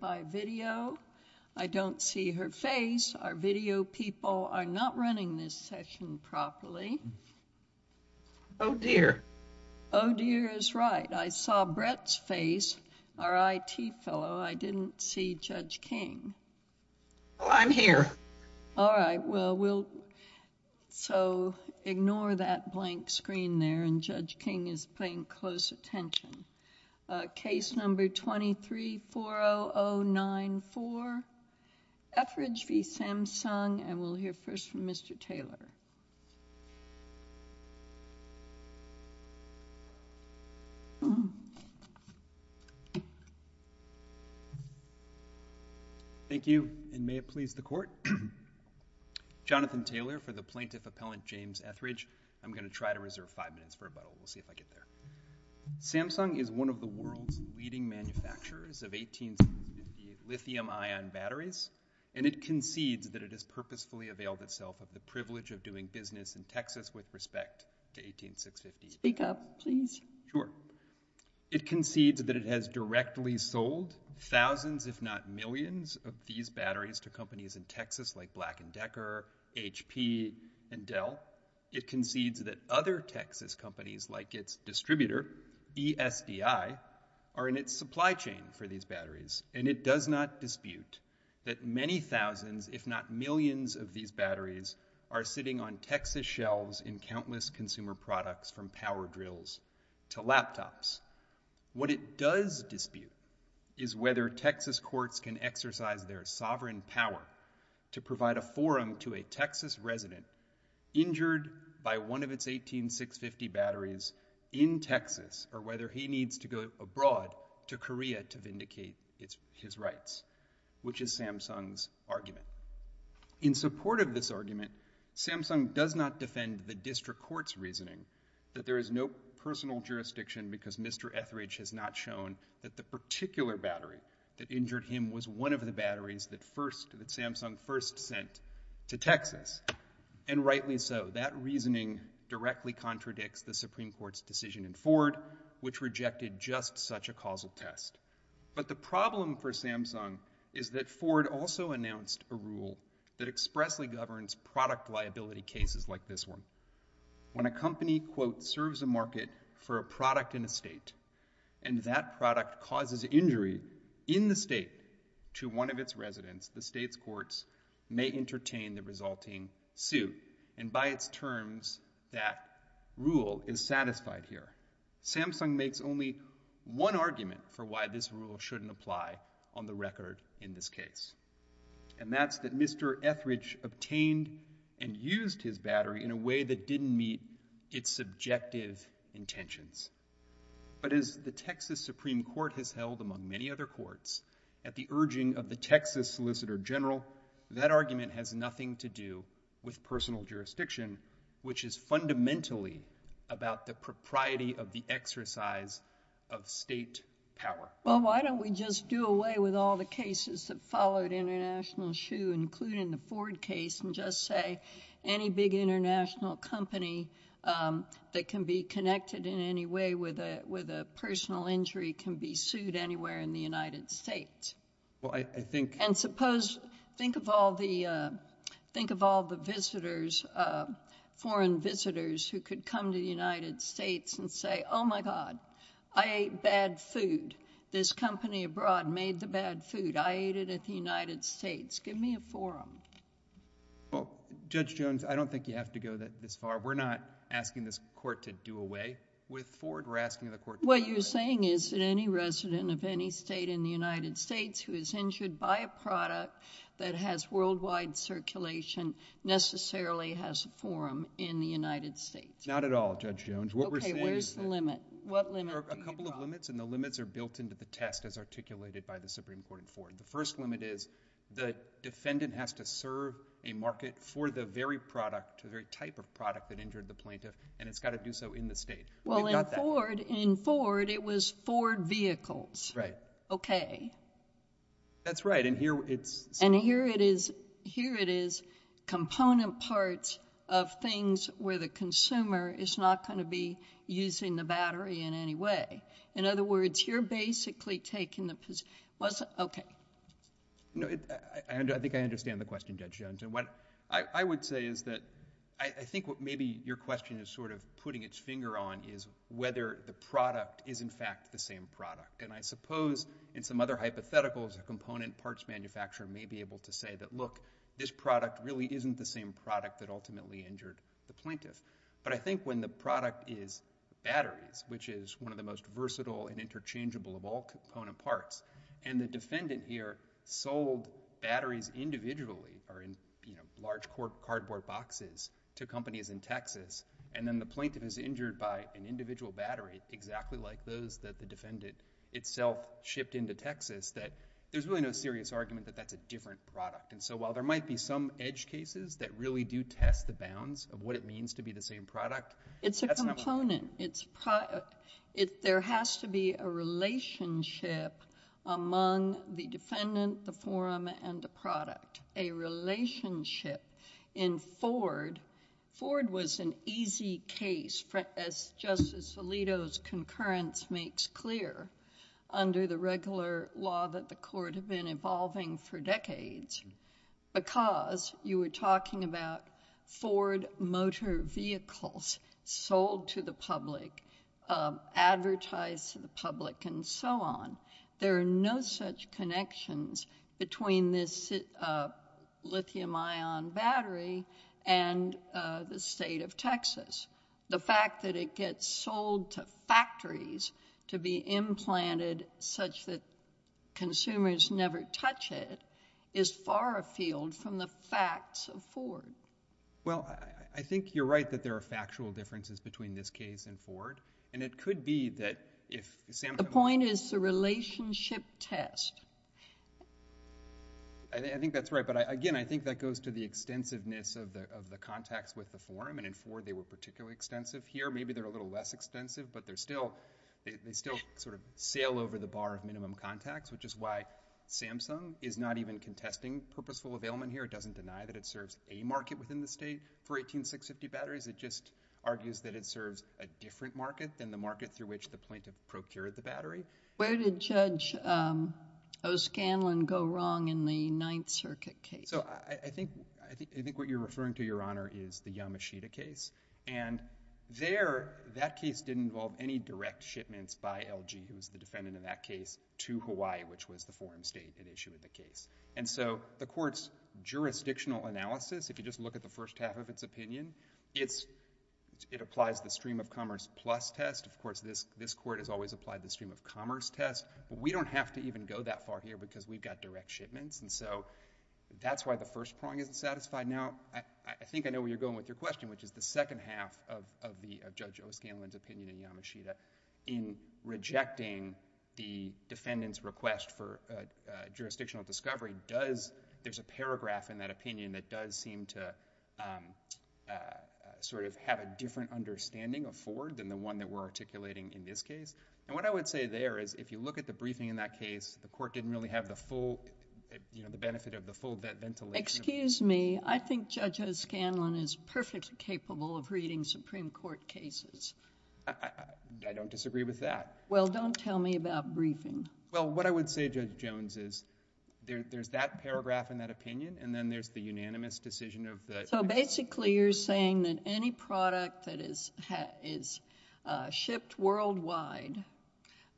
by video. I don't see her face. Our video people are not running this session properly. Oh dear. Oh dear is right. I saw Brett's face, our IT fellow. I didn't see Judge King. Well, I'm here. All right. Well, we'll so ignore that blank screen there and Judge King is paying close attention. Case number 2340094, Etheridge v. Samsung and we'll hear first from Mr. Taylor. Thank you and may it please the court. Jonathan Taylor for the plaintiff appellant James Etheridge. I'm going to try to reserve five minutes for rebuttal. We'll see if I get there. Samsung is one of the world's leading manufacturers of 18650 lithium ion batteries and it concedes that it has purposefully availed itself of the privilege of doing business in Texas with respect to 18650. Speak up please. Sure. It concedes that it has directly sold thousands if not millions of these batteries to companies in Texas like Black & Decker, HP and Dell. It concedes that other Texas companies like its distributor ESDI are in its supply chain for these batteries and it does not dispute that many thousands if not millions of these batteries are sitting on Texas shelves in countless consumer products from power drills to laptops. What it does dispute is whether Texas courts can exercise their sovereign power to provide a forum to a Texas resident injured by one of its 18650 batteries in Texas or whether he needs to go abroad to Korea to vindicate his rights which is Samsung's argument. In support of this argument Samsung does not defend the district court's reasoning that there is no personal jurisdiction because Mr. Etheridge has not shown that the particular battery that injured him was one of the batteries that Samsung first sent to Texas and rightly so. That reasoning directly contradicts the Supreme Court's decision in Ford which rejected just such a causal test. But the problem for Samsung is that Ford also announced a rule that expressly governs product liability cases like this one. When a company quote serves a market for a product in a state and that product causes injury in the state to one of its residents the state's courts may entertain the resulting suit and by its terms that rule is satisfied here. Samsung makes only one argument for why this rule shouldn't apply on the record in this case and that's that Mr. Etheridge obtained and used his battery in a way that didn't meet its subjective intentions. But as the Texas Supreme Court has held among many other courts at the urging of the Texas Solicitor General that argument has nothing to do with personal jurisdiction which is fundamentally about the propriety of the exercise of state power. Well why don't we just do away with all the cases that followed international shoe including the Ford case and just say any big international company that can be connected in any way with a with a personal injury can be sued anywhere in the United States. Well I think and suppose think of all the think of all the visitors foreign visitors who could come to the United States and say oh my god I ate bad food this company abroad made the bad food I at the United States give me a forum. Well Judge Jones I don't think you have to go that this far we're not asking this court to do away with Ford we're asking the court. What you're saying is that any resident of any state in the United States who is injured by a product that has worldwide circulation necessarily has a forum in the United States. Not at all Judge Jones. Okay where's the limit? What limit? A couple of limits and the limits are built into the test as articulated by the Supreme Court in Ford. The first limit is the defendant has to serve a market for the very product a very type of product that injured the plaintiff and it's got to do so in the state. Well in Ford in Ford it was Ford vehicles. Right. Okay. That's right and here it's and here it is here it is component parts of things where the consumer is not going to be using the battery in any way. In other words you're basically taking the position okay. No I think I understand the question Judge Jones and what I would say is that I think what maybe your question is sort of putting its finger on is whether the product is in fact the same product and I suppose in some other hypotheticals a component parts manufacturer may be able to say that look this product really isn't the same product that ultimately injured the plaintiff but I think when the product is which is one of the most versatile and interchangeable of all component parts and the defendant here sold batteries individually or in you know large cork cardboard boxes to companies in Texas and then the plaintiff is injured by an individual battery exactly like those that the defendant itself shipped into Texas that there's really no serious argument that that's a different product and so while there might be some edge cases that really do test the it there has to be a relationship among the defendant the forum and the product a relationship in Ford. Ford was an easy case as Justice Alito's concurrence makes clear under the regular law that the court have been evolving for decades because you were talking about Ford motor vehicles sold to the public advertised to the public and so on there are no such connections between this lithium-ion battery and the state of Texas the fact that it gets sold to factories to be implanted such that consumers never touch it is far afield from the facts of Ford. Well I think you're right that there are factual differences between this case and Ford and it could be that if the point is the relationship test. I think that's right but I again I think that goes to the extensiveness of the of the contacts with the forum and in Ford they were particularly extensive here maybe they're a little less extensive but they're still they still sort of sail over the bar of minimum contacts which is why Samsung is not even contesting purposeful availment here it doesn't deny that it serves a market within the state for 18650 batteries it just argues that it serves a different market than the market through which the plaintiff procured the battery. Where did Judge O'Scanlan go wrong in the Ninth Circuit case? So I think I think what you're referring to your honor is the Yamashita case and there that case didn't involve any direct shipments by LG who's the defendant of that case to Hawaii which was the forum state that issued the case and so the court's jurisdictional analysis if you just look at the first half of its opinion it's it applies the stream of commerce plus test of course this this court has always applied the stream of commerce test we don't have to even go that far here because we've got direct shipments and so that's why the first prong isn't satisfied now I think I know where you're going with your question which is the second half of of the of Judge O'Scanlan's opinion in Yamashita in rejecting the defendant's request for jurisdictional discovery does there's a paragraph in that opinion that does seem to sort of have a different understanding of Ford than the one that we're articulating in this case and what I would say there is if you look at the briefing in that case the court didn't really have the full you know the benefit of the full ventilation. Excuse me I think Judge O'Scanlan is perfectly capable of reading Supreme Court cases. I don't disagree with that. Well don't tell me about briefing. Well what I would say Judge Jones is there's that paragraph in that opinion and then there's the unanimous decision of the. So basically you're saying that any product that is has is shipped worldwide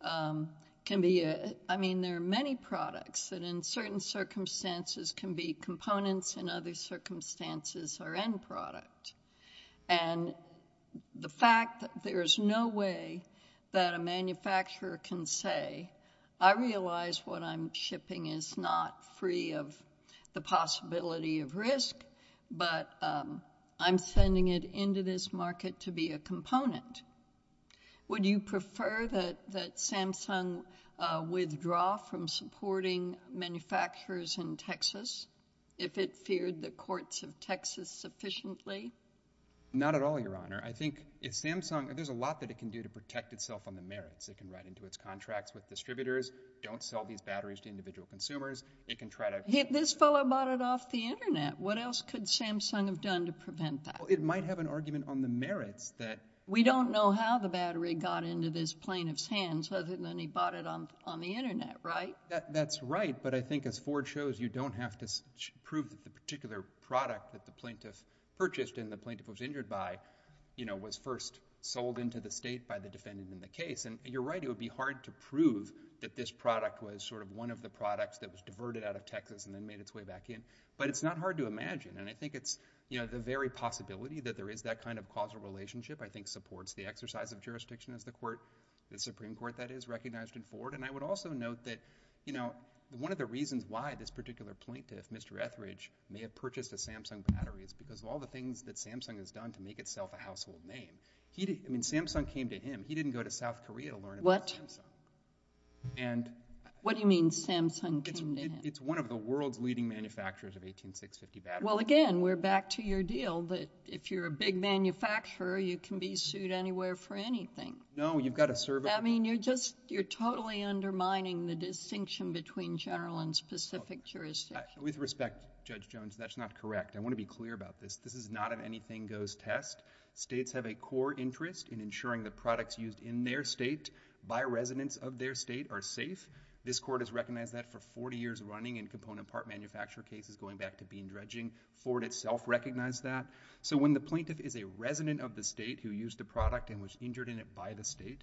can be I mean there are many products that in certain circumstances can be components in other circumstances or end product and the fact that there is no way that a manufacturer can say I realize what I'm shipping is not free of the possibility of risk but I'm sending it into this market to be a component. Would you prefer that that Samsung withdraw from supporting manufacturers in Texas if it feared the courts of Texas sufficiently? Not at all your honor. I think if Samsung there's a lot that it can do to protect itself on the merits. It can write into its contracts with distributors. Don't sell these batteries to individual consumers. It can try to hit this fellow bought it off the internet. What else could Samsung have done to prevent that? It might have an argument on the merits that we don't know how the battery got into this plaintiff's hands other than he bought it on on the internet right? That's right but I think as Ford shows you don't have to prove that the particular product that the plaintiff purchased and the plaintiff was injured by you know was first sold into the state by the defendant in the case and you're right it would be hard to prove that this product was sort of one of the products that was diverted out of Texas and then made its way back in but it's not hard to imagine and I think it's you know the very possibility that there is that kind of causal relationship I think supports the exercise of jurisdiction as the court the Supreme Court that is recognized in Ford and I would also note that you know one of the reasons why this particular plaintiff Mr. Etheridge may have purchased a Samsung battery is because of all the things that Samsung has done to make itself a household name. He didn't I mean Samsung came to him he didn't go to South Korea to learn about Samsung. And what do you mean Samsung came to him? It's one of the world's leading manufacturers of 18650 batteries. Well again we're back to your deal that if you're a big manufacturer you can be sued anywhere for anything. No you've got to serve. I mean you're just you're totally undermining the distinction between general and specific jurisdiction. With respect Judge Jones that's not correct. I want to be clear about this. This is not an anything goes test. States have a core interest in ensuring the products used in their state by residents of their state are safe. This court has recognized that for 40 years running in component part manufacture cases going back to bean dredging. Ford itself recognized that. So when the plaintiff is a resident of the state who used the product and was injured in it by the state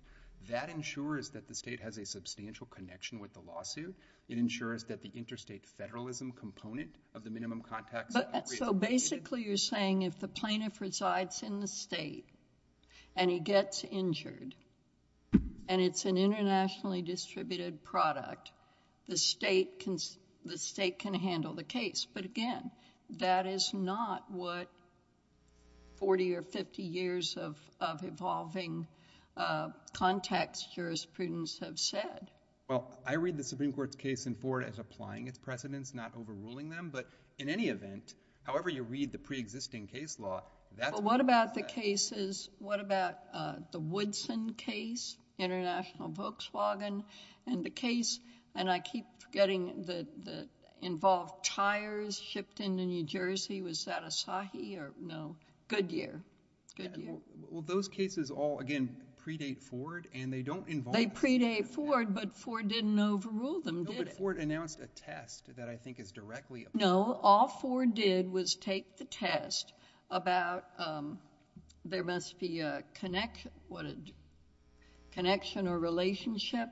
that ensures that the state has a substantial connection with the lawsuit. It ensures that the interstate federalism component of the minimum contacts. But so basically you're saying if the plaintiff resides in the state and he gets injured and it's an internationally distributed product the state can the state can handle the case. But again that is not what 40 or 50 years of evolving contacts jurisprudence have said. Well I read the Supreme Court's case in Ford as applying its precedents not overruling them but in any event however you read the pre-existing case law that's what about the cases what about the Woodson case international Volkswagen and the case and I keep forgetting the the involved tires shipped into New Jersey was that a sahi or no Goodyear. Well those cases all again predate Ford and they don't involve a predate Ford but Ford didn't overrule them before it announced a test that I think is directly. No all Ford did was take the test about there must be a connection what a connection or relationship.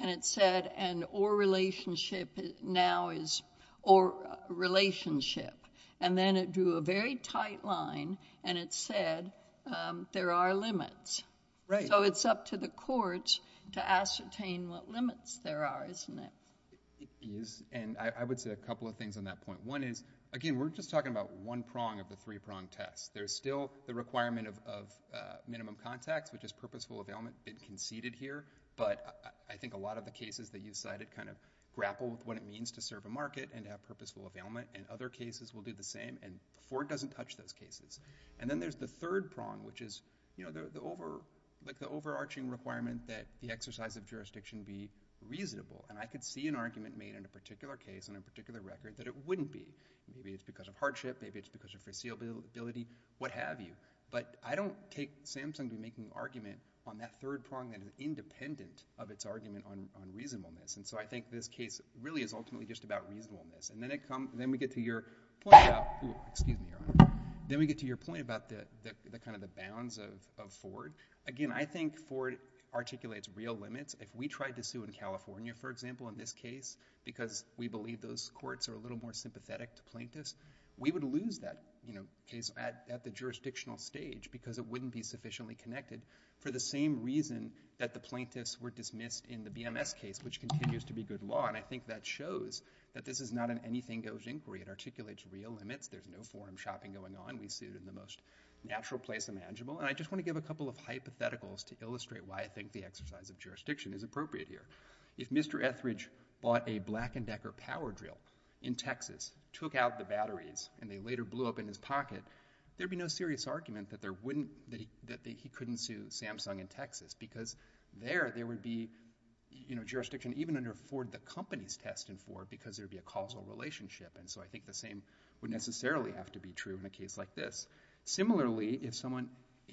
And it said and or relationship now is or relationship and then it drew a very tight line and it said there are limits. So it's up to the courts to ascertain what limits there are isn't it. And I would say a couple of things on that point. One is again we're just talking about one prong of the three prong test. There's still the requirement of minimum contacts which is purposeful availment conceded here but I think a lot of the cases that you cited kind of grapple with what it means to serve a market and have purposeful availment and other cases will do the same and Ford doesn't touch those cases. And then there's the third prong which is you know the over like the overarching requirement that the exercise of jurisdiction be reasonable. And I could see an argument made in a particular case on a particular record that it wouldn't be. Maybe it's because of hardship maybe it's because of foreseeability what have you. But I don't take Samsung be making argument on that third prong that is independent of its argument on reasonableness. And so I think this case really is ultimately just about reasonableness. And then we get to your point about the kind of the bounds of Ford. Again I think Ford articulates real limits. If we tried to sue in California for example in this case because we believe those courts are a little more sympathetic to plaintiffs we would lose that you know case at the jurisdictional stage because it wouldn't be sufficiently connected for the same reason that the plaintiffs were dismissed in the BMS case which continues to be good law. And I think that shows that this is not an anything goes inquiry. It articulates real limits. There's no forum shopping going on. We sued in the most natural place imaginable. And I just want to give a couple of hypotheticals to illustrate why I think the exercise of jurisdiction is appropriate here. If Mr. Etheridge bought a Black & Decker power drill in Texas, took out the batteries and they later blew up in his pocket there'd be no serious argument that there wouldn't that he couldn't sue Samsung in Texas because there there would be you know the companies tested for because there'd be a causal relationship. And so I think the same would necessarily have to be true in a case like this. Similarly if someone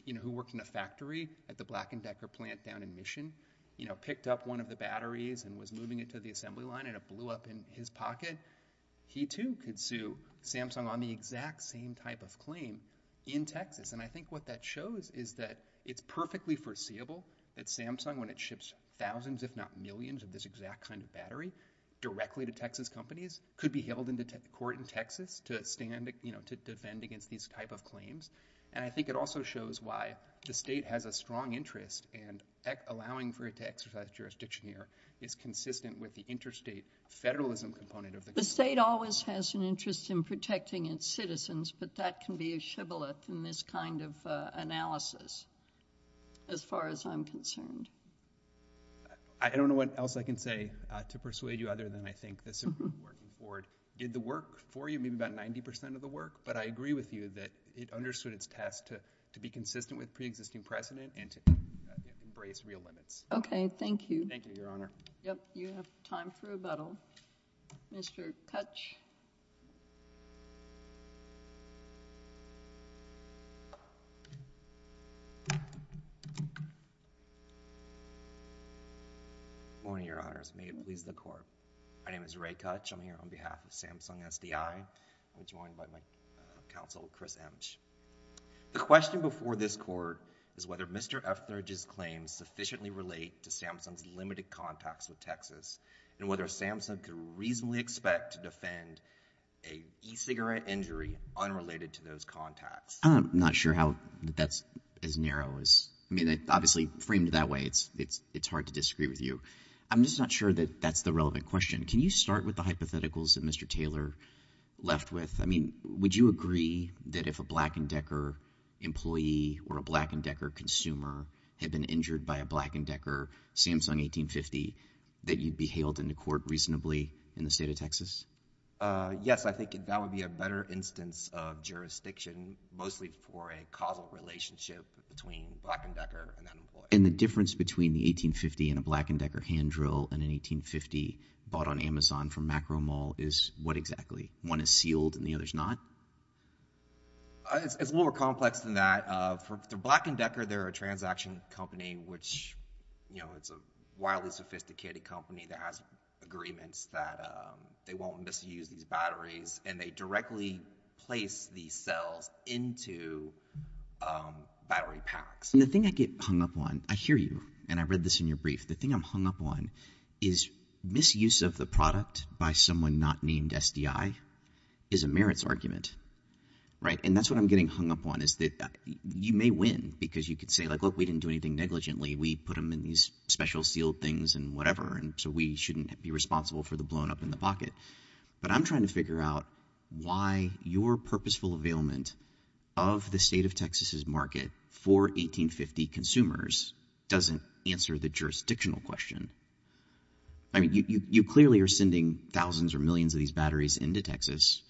you know who worked in a factory at the Black & Decker plant down in Mission you know picked up one of the batteries and was moving it to the assembly line and it blew up in his pocket he too could sue Samsung on the exact same type of claim in Texas. And I think what that shows is that it's perfectly foreseeable that Samsung when it ships thousands if not millions of this exact kind of battery directly to Texas companies could be held in the court in Texas to stand you know to defend against these type of claims. And I think it also shows why the state has a strong interest in allowing for it to exercise jurisdiction here is consistent with the interstate federalism component of the state always has an interest in protecting its citizens but that can be a in this kind of analysis as far as I'm concerned. I don't know what else I can say to persuade you other than I think this important board did the work for you maybe about 90 percent of the work but I agree with you that it understood its task to to be consistent with pre-existing precedent and to embrace real limits. Okay thank you. Thank you your honor. Yep you have time for rebuttal. Mr. F. Thurgey. Morning your honors. May it please the court. My name is Ray Kutch. I'm here on behalf of Samsung SDI. I'm joined by my counsel Chris Emch. The question before this court is whether Mr. F. Thurgey's claims sufficiently relate to Samsung's limited contacts with Texas and whether Samsung could reasonably expect to defend a e-cigarette injury unrelated to those contacts. I'm not sure how that's as narrow as I mean obviously framed that way it's it's it's hard to disagree with you. I'm just not sure that that's the relevant question. Can you start with the hypotheticals that Mr. Taylor left with? I mean would you agree that if a Black & Decker employee or a Black & Decker consumer had been injured by a Black & Decker Samsung 1850 that you'd be hailed into in the state of Texas? Yes I think that would be a better instance of jurisdiction mostly for a causal relationship between Black & Decker and that employee. And the difference between the 1850 and a Black & Decker hand drill and an 1850 bought on Amazon from Macro Mall is what exactly? One is sealed and the other's not? It's a little more complex than that. For Black & Decker they're a transaction company which you know it's a wildly sophisticated company that has agreements that they won't misuse these batteries and they directly place these cells into battery packs. The thing I get hung up on I hear you and I read this in your brief the thing I'm hung up on is misuse of the product by someone not named SDI is a merits argument right and that's what I'm getting hung up on is that you may win because you could say like look we didn't do anything negligently we put them in these special sealed things and whatever and so we shouldn't be responsible for the blown up in the pocket but I'm trying to figure out why your purposeful availment of the state of Texas's market for 1850 consumers doesn't answer the jurisdictional question. I mean you clearly are sending thousands or millions of these batteries into Texas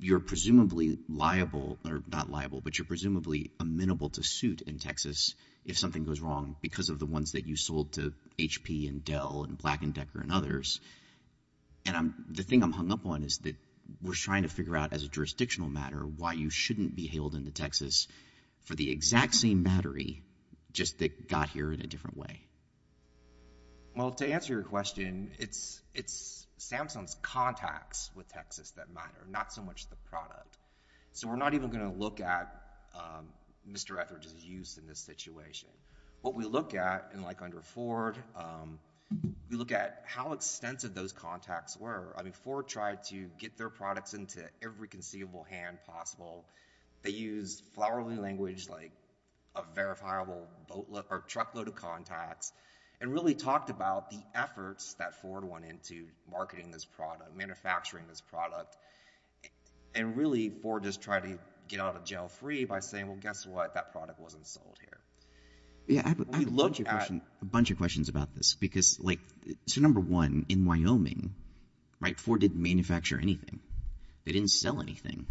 you're presumably liable or not liable but you're presumably amenable to suit in Texas if something goes wrong because of the ones that you sold to HP and Dell and Black & Decker and others and I'm the thing I'm hung up on is that we're trying to figure out as a jurisdictional matter why you shouldn't be hailed into Texas for the exact same battery just that got here in a different way. Well to answer your question it's it's Samsung's contacts with Texas that matter not so much the product. So we're not even going to look at Mr. Etheridge's use in this situation what we look at and like under Ford we look at how extensive those contacts were I mean Ford tried to get their products into every conceivable hand possible they use flowery language like a verifiable boatload or truckload of contacts and really talked about the efforts that Ford went into marketing this product manufacturing this product and really Ford just tried to get out of jail free by saying well guess what that product wasn't sold here. Yeah I have a bunch of questions about this because like so number one in Wyoming right Ford didn't manufacture anything they didn't sell anything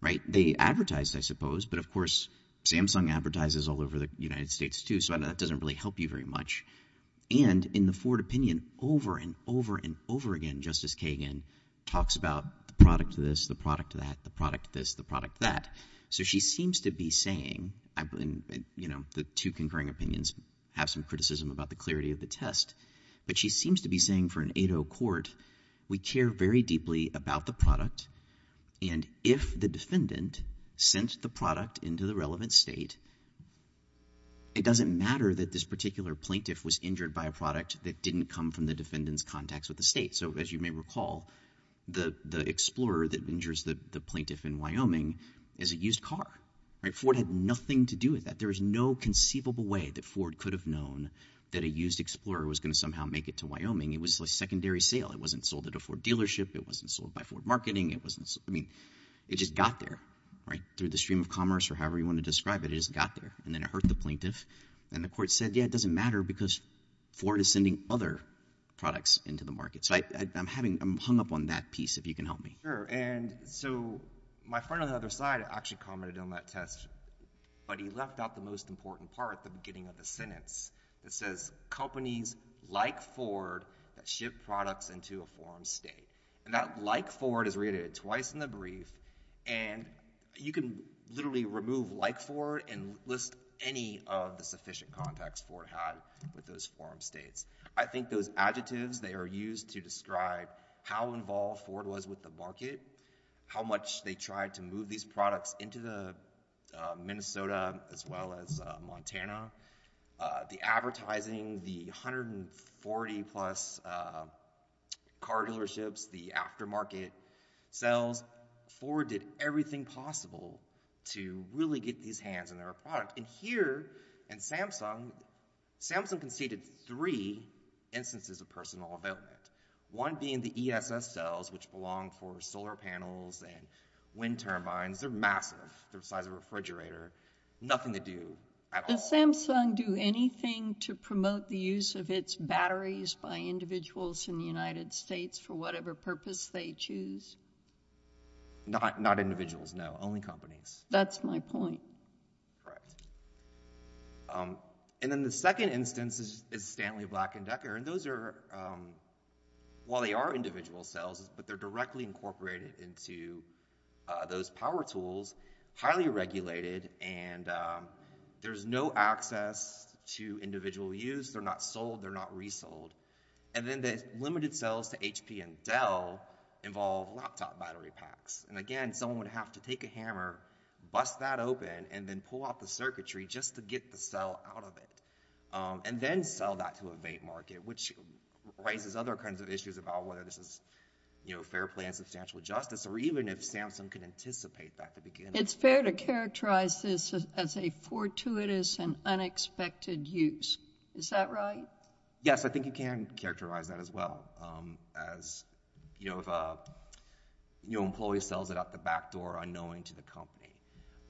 right they advertised I suppose but of course Samsung advertises all over the United States too so I know that doesn't really help you very much and in the Ford opinion over and over and over again Justice Kagan talks about the product to this the product to that the product this the product that so she seems to be saying I've been you know the two concurring opinions have some criticism about the clarity of the test but she seems to be saying for an 8-0 court we care very deeply about the product and if the defendant sent the product into the relevant state it doesn't matter that this particular plaintiff was injured by a product that didn't come from the defendant's contacts with the state so as you may recall the the explorer that injures the the plaintiff in Wyoming is a used car right Ford had nothing to do with that there is no conceivable way that Ford could have known that a used explorer was going to somehow make it to Wyoming it was a secondary sale it wasn't sold at a Ford right through the stream of commerce or however you want to describe it it just got there and then it hurt the plaintiff and the court said yeah it doesn't matter because Ford is sending other products into the market so I'm having I'm hung up on that piece if you can help me. Sure and so my friend on the other side actually commented on that test but he left out the most important part at the beginning of the sentence it says companies like Ford that ship products into a brief and you can literally remove like Ford and list any of the sufficient contacts Ford had with those forum states I think those adjectives they are used to describe how involved Ford was with the market how much they tried to move these products into the Minnesota as well as Montana the advertising the 140 plus car dealerships the aftermarket sales Ford did everything possible to really get these hands on their product and here in Samsung Samsung conceded three instances of personal development one being the ESS cells which belong for solar panels and wind turbines they're massive they're the size of a refrigerator nothing to do at all does Samsung do anything to promote the use of its batteries by individuals in the United States for whatever purpose they choose not not individuals no only companies that's my point right and then the second instance is Stanley Black and Decker and those are while they are individual cells but they're directly incorporated into those power tools highly regulated and there's no access to individual use they're not sold they're not resold and then the limited cells to HP and Dell involve laptop battery packs and again someone would have to take a hammer bust that open and then pull out the circuitry just to get the cell out of it and then sell that to a vape market which raises other kinds of issues about whether this is you know fair play and substantial justice or even if Samsung can anticipate back to begin it's fair to characterize this as a fortuitous and unexpected use is that right yes I think you can characterize that as well as you know if a new employee sells it out the back door unknowing to the company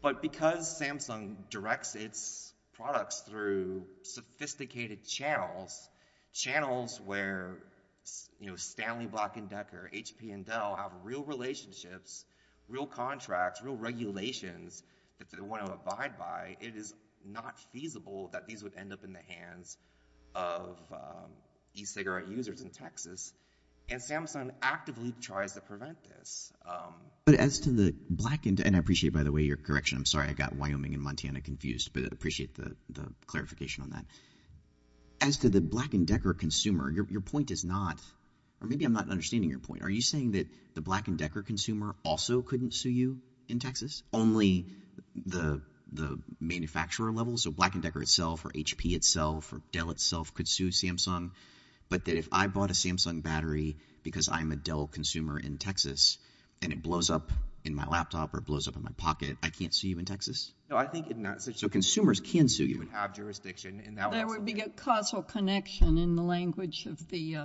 but because Samsung directs its products through sophisticated channels channels where you know Stanley Black and Decker HP and Dell have real relationships real contracts real regulations that they want to abide by it is not feasible that these would end up in the hands of e-cigarette users in Texas and Samsung actively tries to prevent this but as to the and I appreciate by the way your correction I'm sorry I got Wyoming and Montana confused but appreciate the the clarification on that as to the Black and Decker consumer your point is not or maybe I'm not understanding your point are you saying that the Black and Decker consumer also couldn't sue you in Texas only the the manufacturer level so Black and Decker itself or HP itself or Dell itself could sue Samsung but that if I bought a Samsung battery because I'm a laptop or blows up in my pocket I can't see you in Texas no I think so consumers can sue you have jurisdiction and that would be a causal connection in the language of the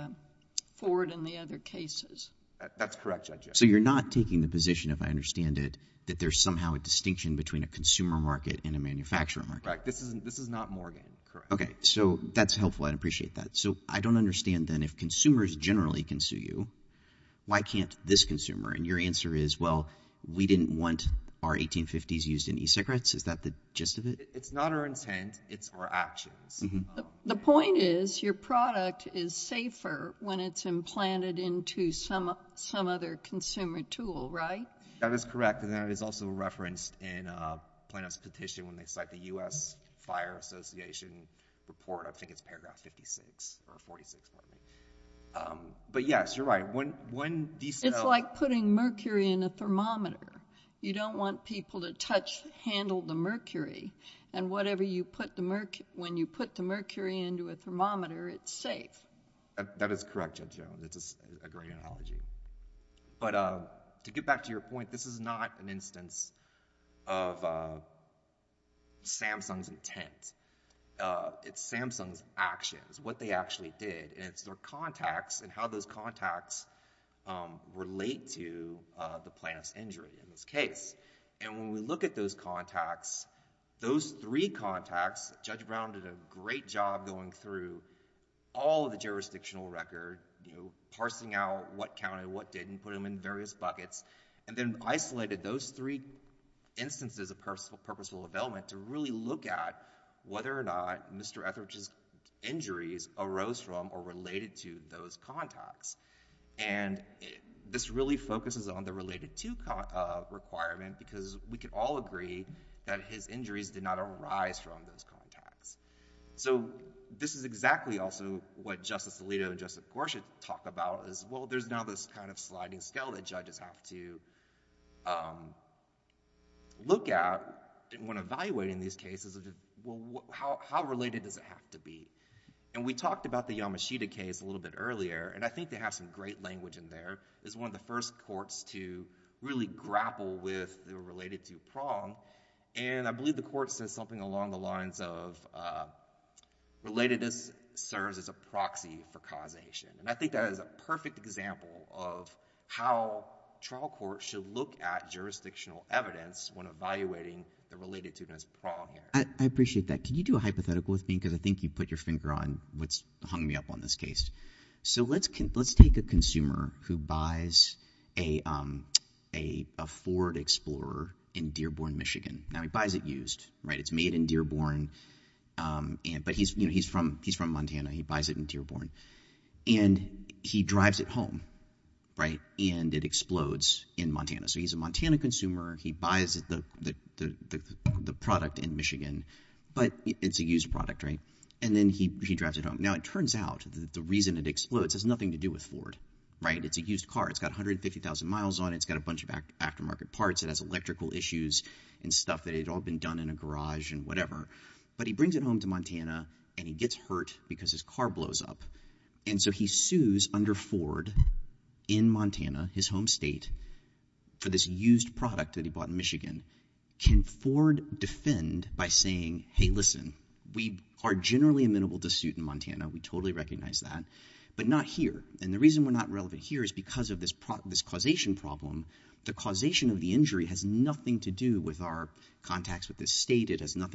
Ford and the other cases that's correct so you're not taking the position if I understand it that there's somehow a distinction between a consumer market and a manufacturer market this isn't this is not Morgan okay so that's helpful I'd appreciate that so I don't understand then if consumers generally can sue you why can't this consumer and your answer is well we didn't want our 1850s used in e-cigarettes is that the gist of it it's not our intent it's our actions the point is your product is safer when it's implanted into some some other consumer tool right that is correct and that is also referenced in a plaintiff's petition when they cite the U.S. Fire Association report I think it's paragraph 56 or 46 but yes you're right when when these it's like putting mercury in a thermometer you don't want people to touch handle the mercury and whatever you put the mercury when you put the mercury into a thermometer it's safe that is correct judge jones it's a great analogy but uh to get back to your point this is not an instance of uh it's samsung's actions what they actually did and it's their contacts and how those contacts um relate to uh the plaintiff's injury in this case and when we look at those contacts those three contacts judge brown did a great job going through all the jurisdictional record you know parsing out what counted what didn't put them in various buckets and then isolated those three instances of personal purposeful development to really look at whether or not Mr. Etheridge's injuries arose from or related to those contacts and this really focuses on the related to requirement because we could all agree that his injuries did not arise from those contacts so this is exactly also what justice Alito and justice Gorsuch talk about is well there's now this kind of sliding scale that judges have to um look at when evaluating these cases well how related does it have to be and we talked about the Yamashita case a little bit earlier and I think they have some great language in there is one of the first courts to really grapple with the related to prong and I believe the court says something along the lines of uh relatedness serves as a proxy for causation and I think that is a perfect example of how trial court should look at jurisdictional evidence when evaluating the related to this problem I appreciate that can you do a hypothetical with me because I think you put your finger on what's hung me up on this case so let's let's take a consumer who buys a um a ford explorer in dearborn michigan now he he's from he's from montana he buys it in dearborn and he drives it home right and it explodes in montana so he's a montana consumer he buys the the the product in michigan but it's a used product right and then he he drives it home now it turns out that the reason it explodes has nothing to do with ford right it's a used car it's got 150 000 miles on it's got a bunch of aftermarket parts it has electrical issues and stuff that had all been done in a garage and whatever but he brings it home to montana and he gets hurt because his car blows up and so he sues under ford in montana his home state for this used product that he bought in michigan can ford defend by saying hey listen we are generally amenable to suit in montana we totally recognize that but not here and the reason we're not relevant here is because of this product this causation problem the causation of the injury has nothing to do with our contacts with this state it has to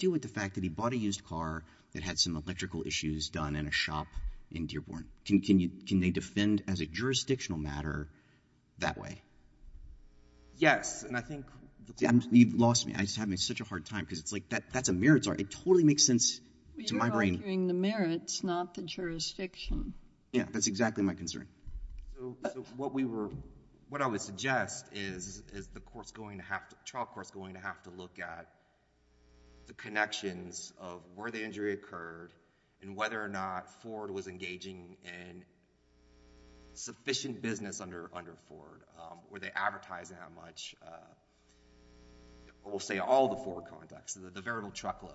do with the fact that he bought a used car that had some electrical issues done in a shop in dearborn can you can they defend as a jurisdictional matter that way yes and i think you've lost me i'm just having such a hard time because it's like that that's a merits art it totally makes sense to my brain the merits not the jurisdiction yeah that's exactly my concern so what we were what i would suggest is is the court's going to have to trial court's going to have to look at the connections of where the injury occurred and whether or not ford was engaging in sufficient business under under ford were they advertising how much we'll say all the four contacts the variable truck load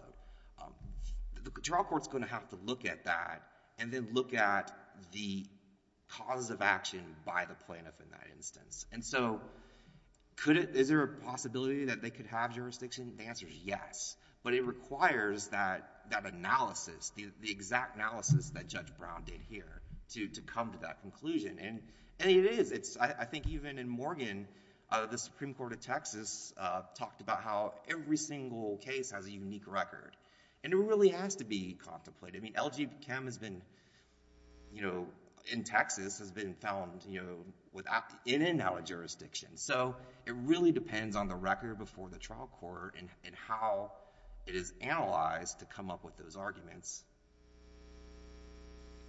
the trial court's going to have to look at that and then look at the causes of action by the plaintiff in that instance and so could it is there a possibility that they could have jurisdiction the answer is yes but it requires that that analysis the the exact analysis that judge brown did here to to come to that conclusion and and it is it's i think even in morgan uh the supreme court of texas uh talked about how every single case has a unique record and it really has to be contemplated i mean lgb cam has been you know in texas has been found you know without in and out of jurisdiction so it really depends on the record before the trial court and how it is analyzed to come up with those arguments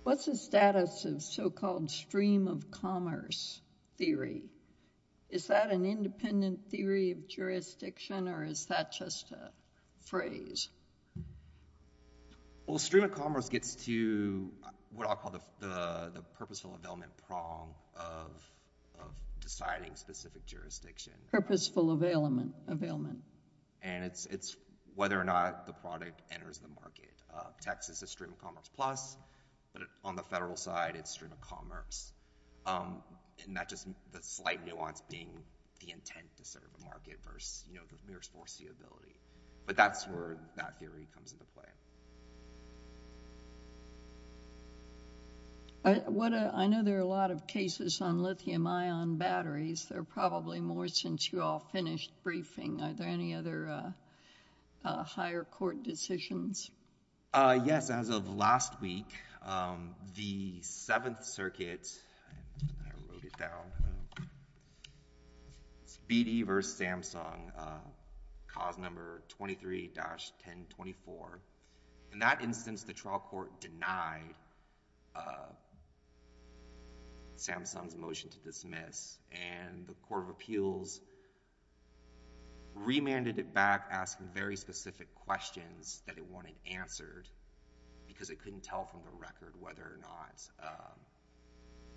what's the status of so-called stream of commerce theory is that an independent theory of jurisdiction or is that just a phrase well stream of commerce gets to what i'll call the the the purposeful availment prong of of deciding specific jurisdiction purposeful availment availment and it's it's whether or not the product enters the market uh texas is stream of commerce plus but on the federal side it's stream of commerce um it matches the slight nuance being the intent to serve the market force the ability but that's where that theory comes into play i what i know there are a lot of cases on lithium-ion batteries they're probably more since you all finished briefing are there any other uh higher court decisions uh yes as of last week um the seventh circuit i wrote it down speedy versus samsung uh cause number 23-1024 in that instance the trial court denied samsung's motion to dismiss and the court of appeals remanded it back asking very specific questions that it wanted answered because it couldn't tell from the record whether or not uh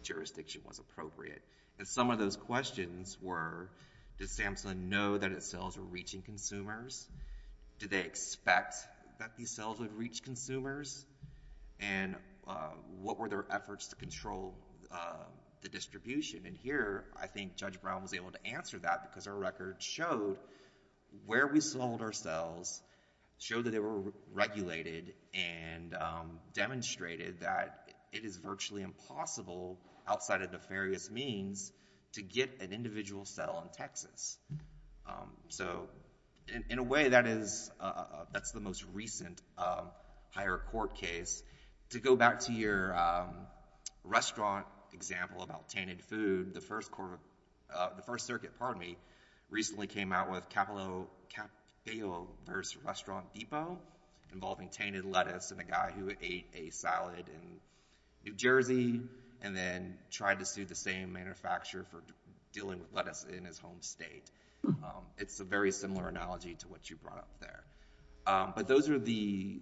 jurisdiction was appropriate and some of those questions were did samsung know that its cells were reaching consumers did they expect that these cells would reach consumers and uh what were their efforts to control uh the distribution and here i think judge brown was able to answer that because our record showed where we sold our cells showed that they were regulated and um demonstrated that it is virtually impossible outside of nefarious means to get an individual cell in texas um so in a way that is uh that's the most recent uh higher court case to go back to your um restaurant example about tainted food the first quarter uh the first circuit pardon me recently came out with capillo restaurant depot involving tainted lettuce and a guy who ate a salad in new jersey and then tried to sue the same manufacturer for dealing with lettuce in his home state it's a very similar analogy to what you brought up there um but those are the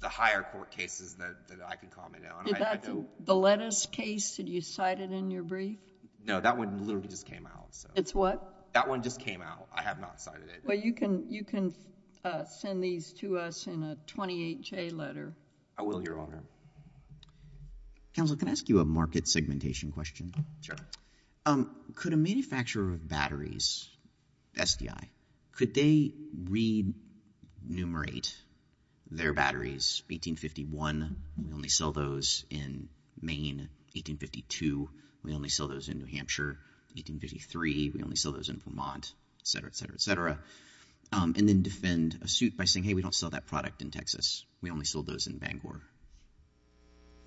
the higher court cases that i can comment on the lettuce case did you cite it in your brief no that one literally just came out so it's what that one just came out i have not cited it well you can you can uh send these to us in a 28 j letter i will your honor counsel can i ask you a market segmentation question sure um could a manufacturer of batteries sdi could they read enumerate their batteries 1851 we only sell those in main 1852 we only sell those in new hampshire 1853 we only sell those in vermont etc etc etc um and then defend a suit by saying hey we don't sell that product in texas we only sold those in bangor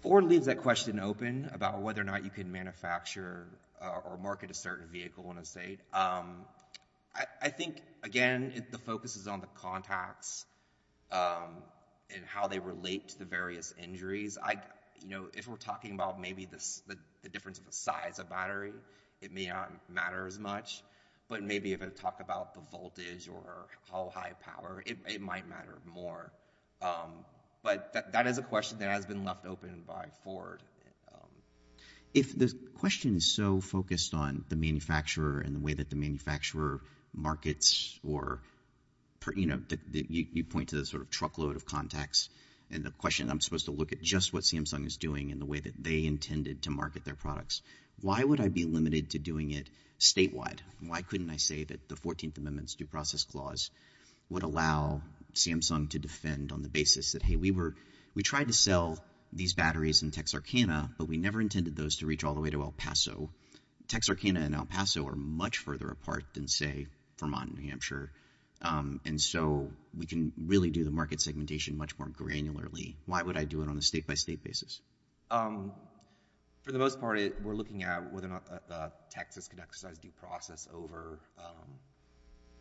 or leaves that question open about whether or not you can manufacture or market a certain vehicle in a state um i i think again the focus is on the contacts um and how they relate to the various injuries i you know if we're talking about maybe this the difference of the size of battery it may not matter as much but maybe if i talk about the voltage or how high power it might matter more um but that is a question that has been left open by ford if the question is so focused on the manufacturer and the way that the manufacturer markets or you know that you point to the sort of truckload of contacts and the question i'm supposed to look at just what samsung is doing and the way that they intended to market their products why would i be limited to doing it statewide why couldn't i say that the 14th amendment's due process clause would allow samsung to defend on the basis that hey we were we tried to sell these batteries in texarkana but we never intended those to reach all the way to el paso texarkana and el paso are much further apart than say vermont and new hampshire um and so we can really do the market segmentation much more granularly why would i do it on a state-by-state basis um for the most part we're looking at whether or not texas could exercise due process over um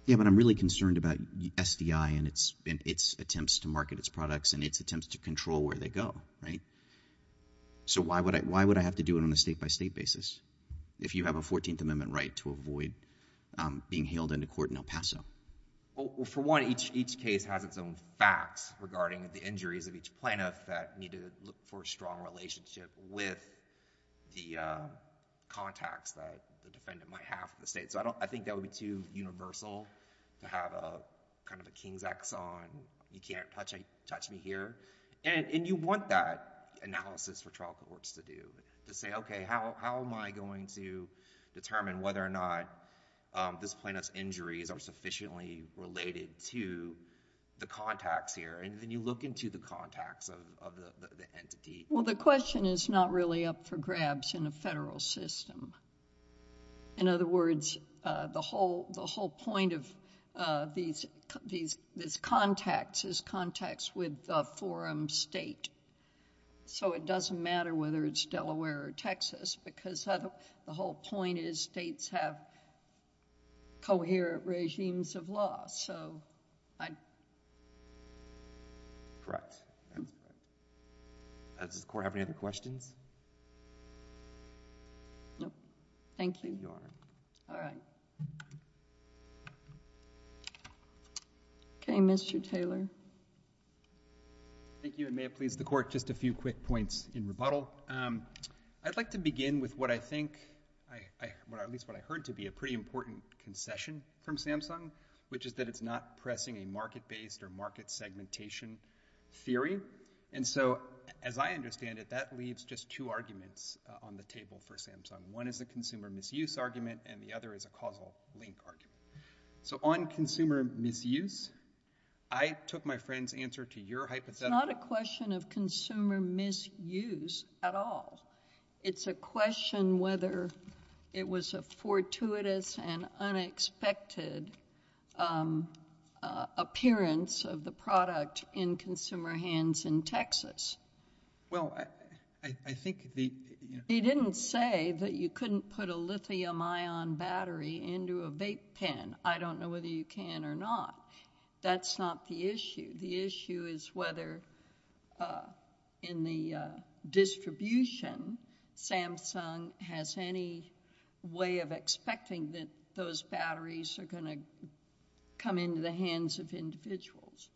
yeah but i'm really concerned about sdi and its and its attempts to market its products and its attempts to control where they go right so why would i why would i have to do it on a state-by-state basis if you have a 14th amendment right to avoid um being hailed into court in el paso well for one each each case has its own facts regarding the injuries of each plaintiff that need to look for a strong relationship with the uh contacts that the defendant might have the state so i don't i think that would be too universal to have a kind of a you can't touch me touch me here and you want that analysis for trial courts to do to say okay how am i going to determine whether or not um this plaintiff's injuries are sufficiently related to the contacts here and then you look into the contacts of the entity well the question is not really up for grabs in a federal system in other words uh the whole the whole point of these these this contacts is context with the forum state so it doesn't matter whether it's delaware or texas because the whole point is states have coherent regimes of law so i correct does the court have any other questions no thank you your honor all right okay mr taylor thank you and may it please the court just a few quick points in rebuttal um i'd like to begin with what i think i i what at least what i heard to be a pretty important concession from samsung which is that it's not pressing a market-based or market segmentation theory and so as i understand it that leaves just two arguments on the table for samsung one is the consumer misuse argument and the other is a causal link argument so on consumer misuse i took my friend's answer to your hypothetical it's not a question of consumer misuse at all it's a question whether it was a fortuitous and unexpected um appearance of the product in consumer hands in texas well i i think the he didn't say that you couldn't put a lithium-ion battery into a vape pen i don't know whether you can or not that's not the issue the issue is whether uh in the uh distribution samsung has any way of expecting that those batteries are going to come into the hands of individuals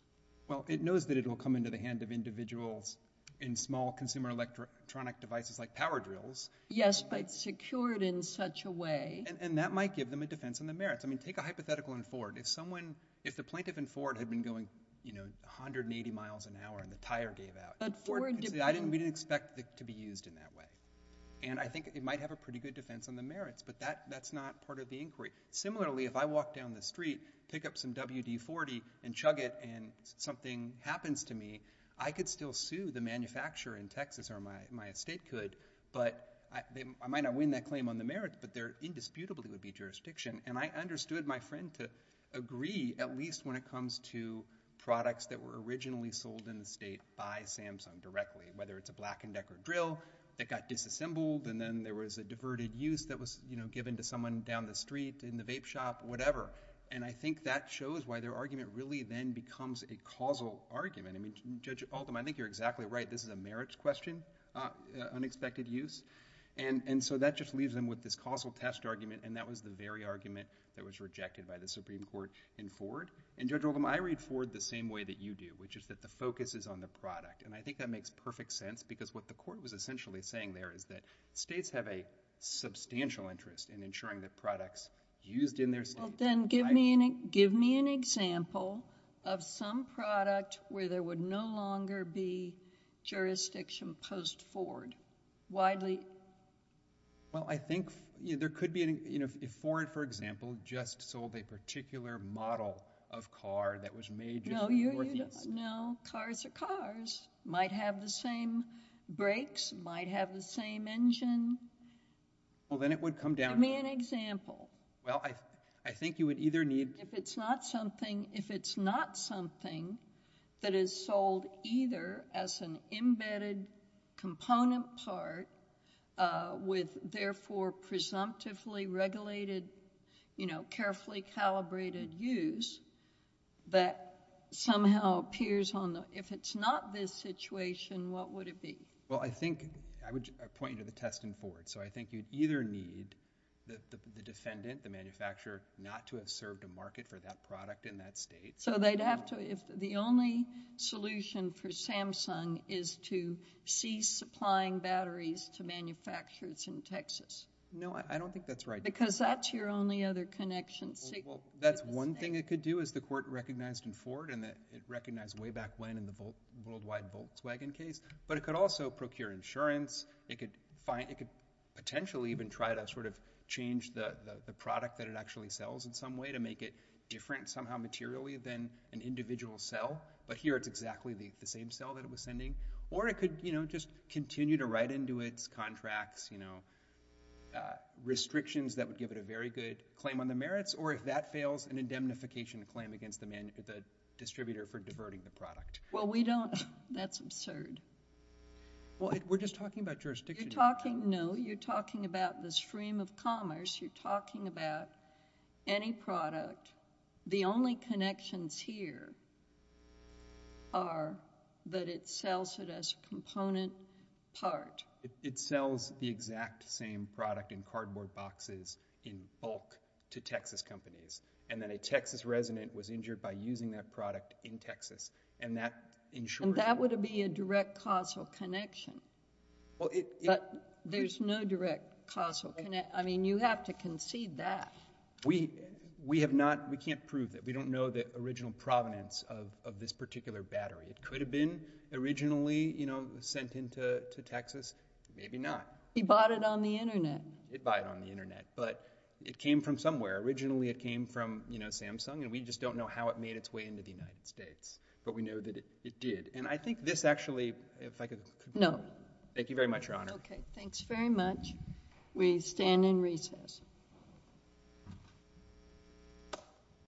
well it knows that it will come into the hand of individuals in small consumer electronic devices like power drills yes but secured in such a way and that might give them a defense on the merits i mean take a hypothetical in ford if someone if the plaintiff and ford had been going you know 180 miles an hour and the tire gave out but i didn't expect it to be used in that way and i think it might have a pretty good defense on the merits but that that's not part of the inquiry similarly if i walk down the street pick up some wd-40 and chug it and something happens to me i could still sue the manufacturer in texas or my my estate could but i might not win that claim on the merits but there indisputably would be jurisdiction and i understood my friend to agree at least when it comes to products that were originally sold in the state by samsung directly whether it's a black and decker drill that got disassembled and then there was a diverted use that was you know given to someone down the street in the vape shop whatever and i think that shows why their argument really then becomes a causal argument i mean judge ultim i think you're exactly right this is a merits question uh unexpected use and and so that just leaves them with this causal test argument and that was the very argument that was rejected by the supreme court in ford and judge ultim i read ford the same way that you do which is that the focus is on the product and i think that makes perfect sense because what the court was essentially saying there is that states have a substantial interest in ensuring that products used in their state well then give me any give me an example of some product where there would no longer be jurisdiction post ford widely well i think there could be any you know if ford for example just sold a particular model of car that was made no cars are cars might have the same brakes might have the same engine well then it would come down give me an example well i i think you would either need if it's not something if it's not something that is sold either as an embedded component part with therefore presumptively regulated you know carefully calibrated use that somehow appears on the if it's not this situation what would it be well i think i would point you to the test in ford so i think you'd either need the defendant the manufacturer not to have served a market for that product in that state so they'd have to if the only solution for in texas no i don't think that's right because that's your only other connection that's one thing it could do is the court recognized in ford and that it recognized way back when in the volt worldwide volkswagen case but it could also procure insurance it could find it could potentially even try to sort of change the the product that it actually sells in some way to make it different somehow materially than an individual cell but here it's exactly the the same cell that it was sending or it could you know just continue to write into its contracts you know restrictions that would give it a very good claim on the merits or if that fails an indemnification claim against the man the distributor for diverting the product well we don't that's absurd well we're just talking about jurisdiction talking no you're talking about the stream of commerce you're talking about any product the only connections here are that it sells it as a component part it sells the exact same product in cardboard boxes in bulk to texas companies and then a texas resident was injured by using that product in texas and that ensured that would be a direct causal connection well it but there's no direct causal connect i mean you have to concede that we we have not we can't prove that we don't know the original provenance of of this particular battery it could have been originally you know sent into to texas maybe not he bought it on the internet it bought it on the internet but it came from somewhere originally it came from you know samsung and we just don't know how it made its way into the united states but we know that it did and i think this actually if i could no thank you very much your honor okay thanks very much we stand in recess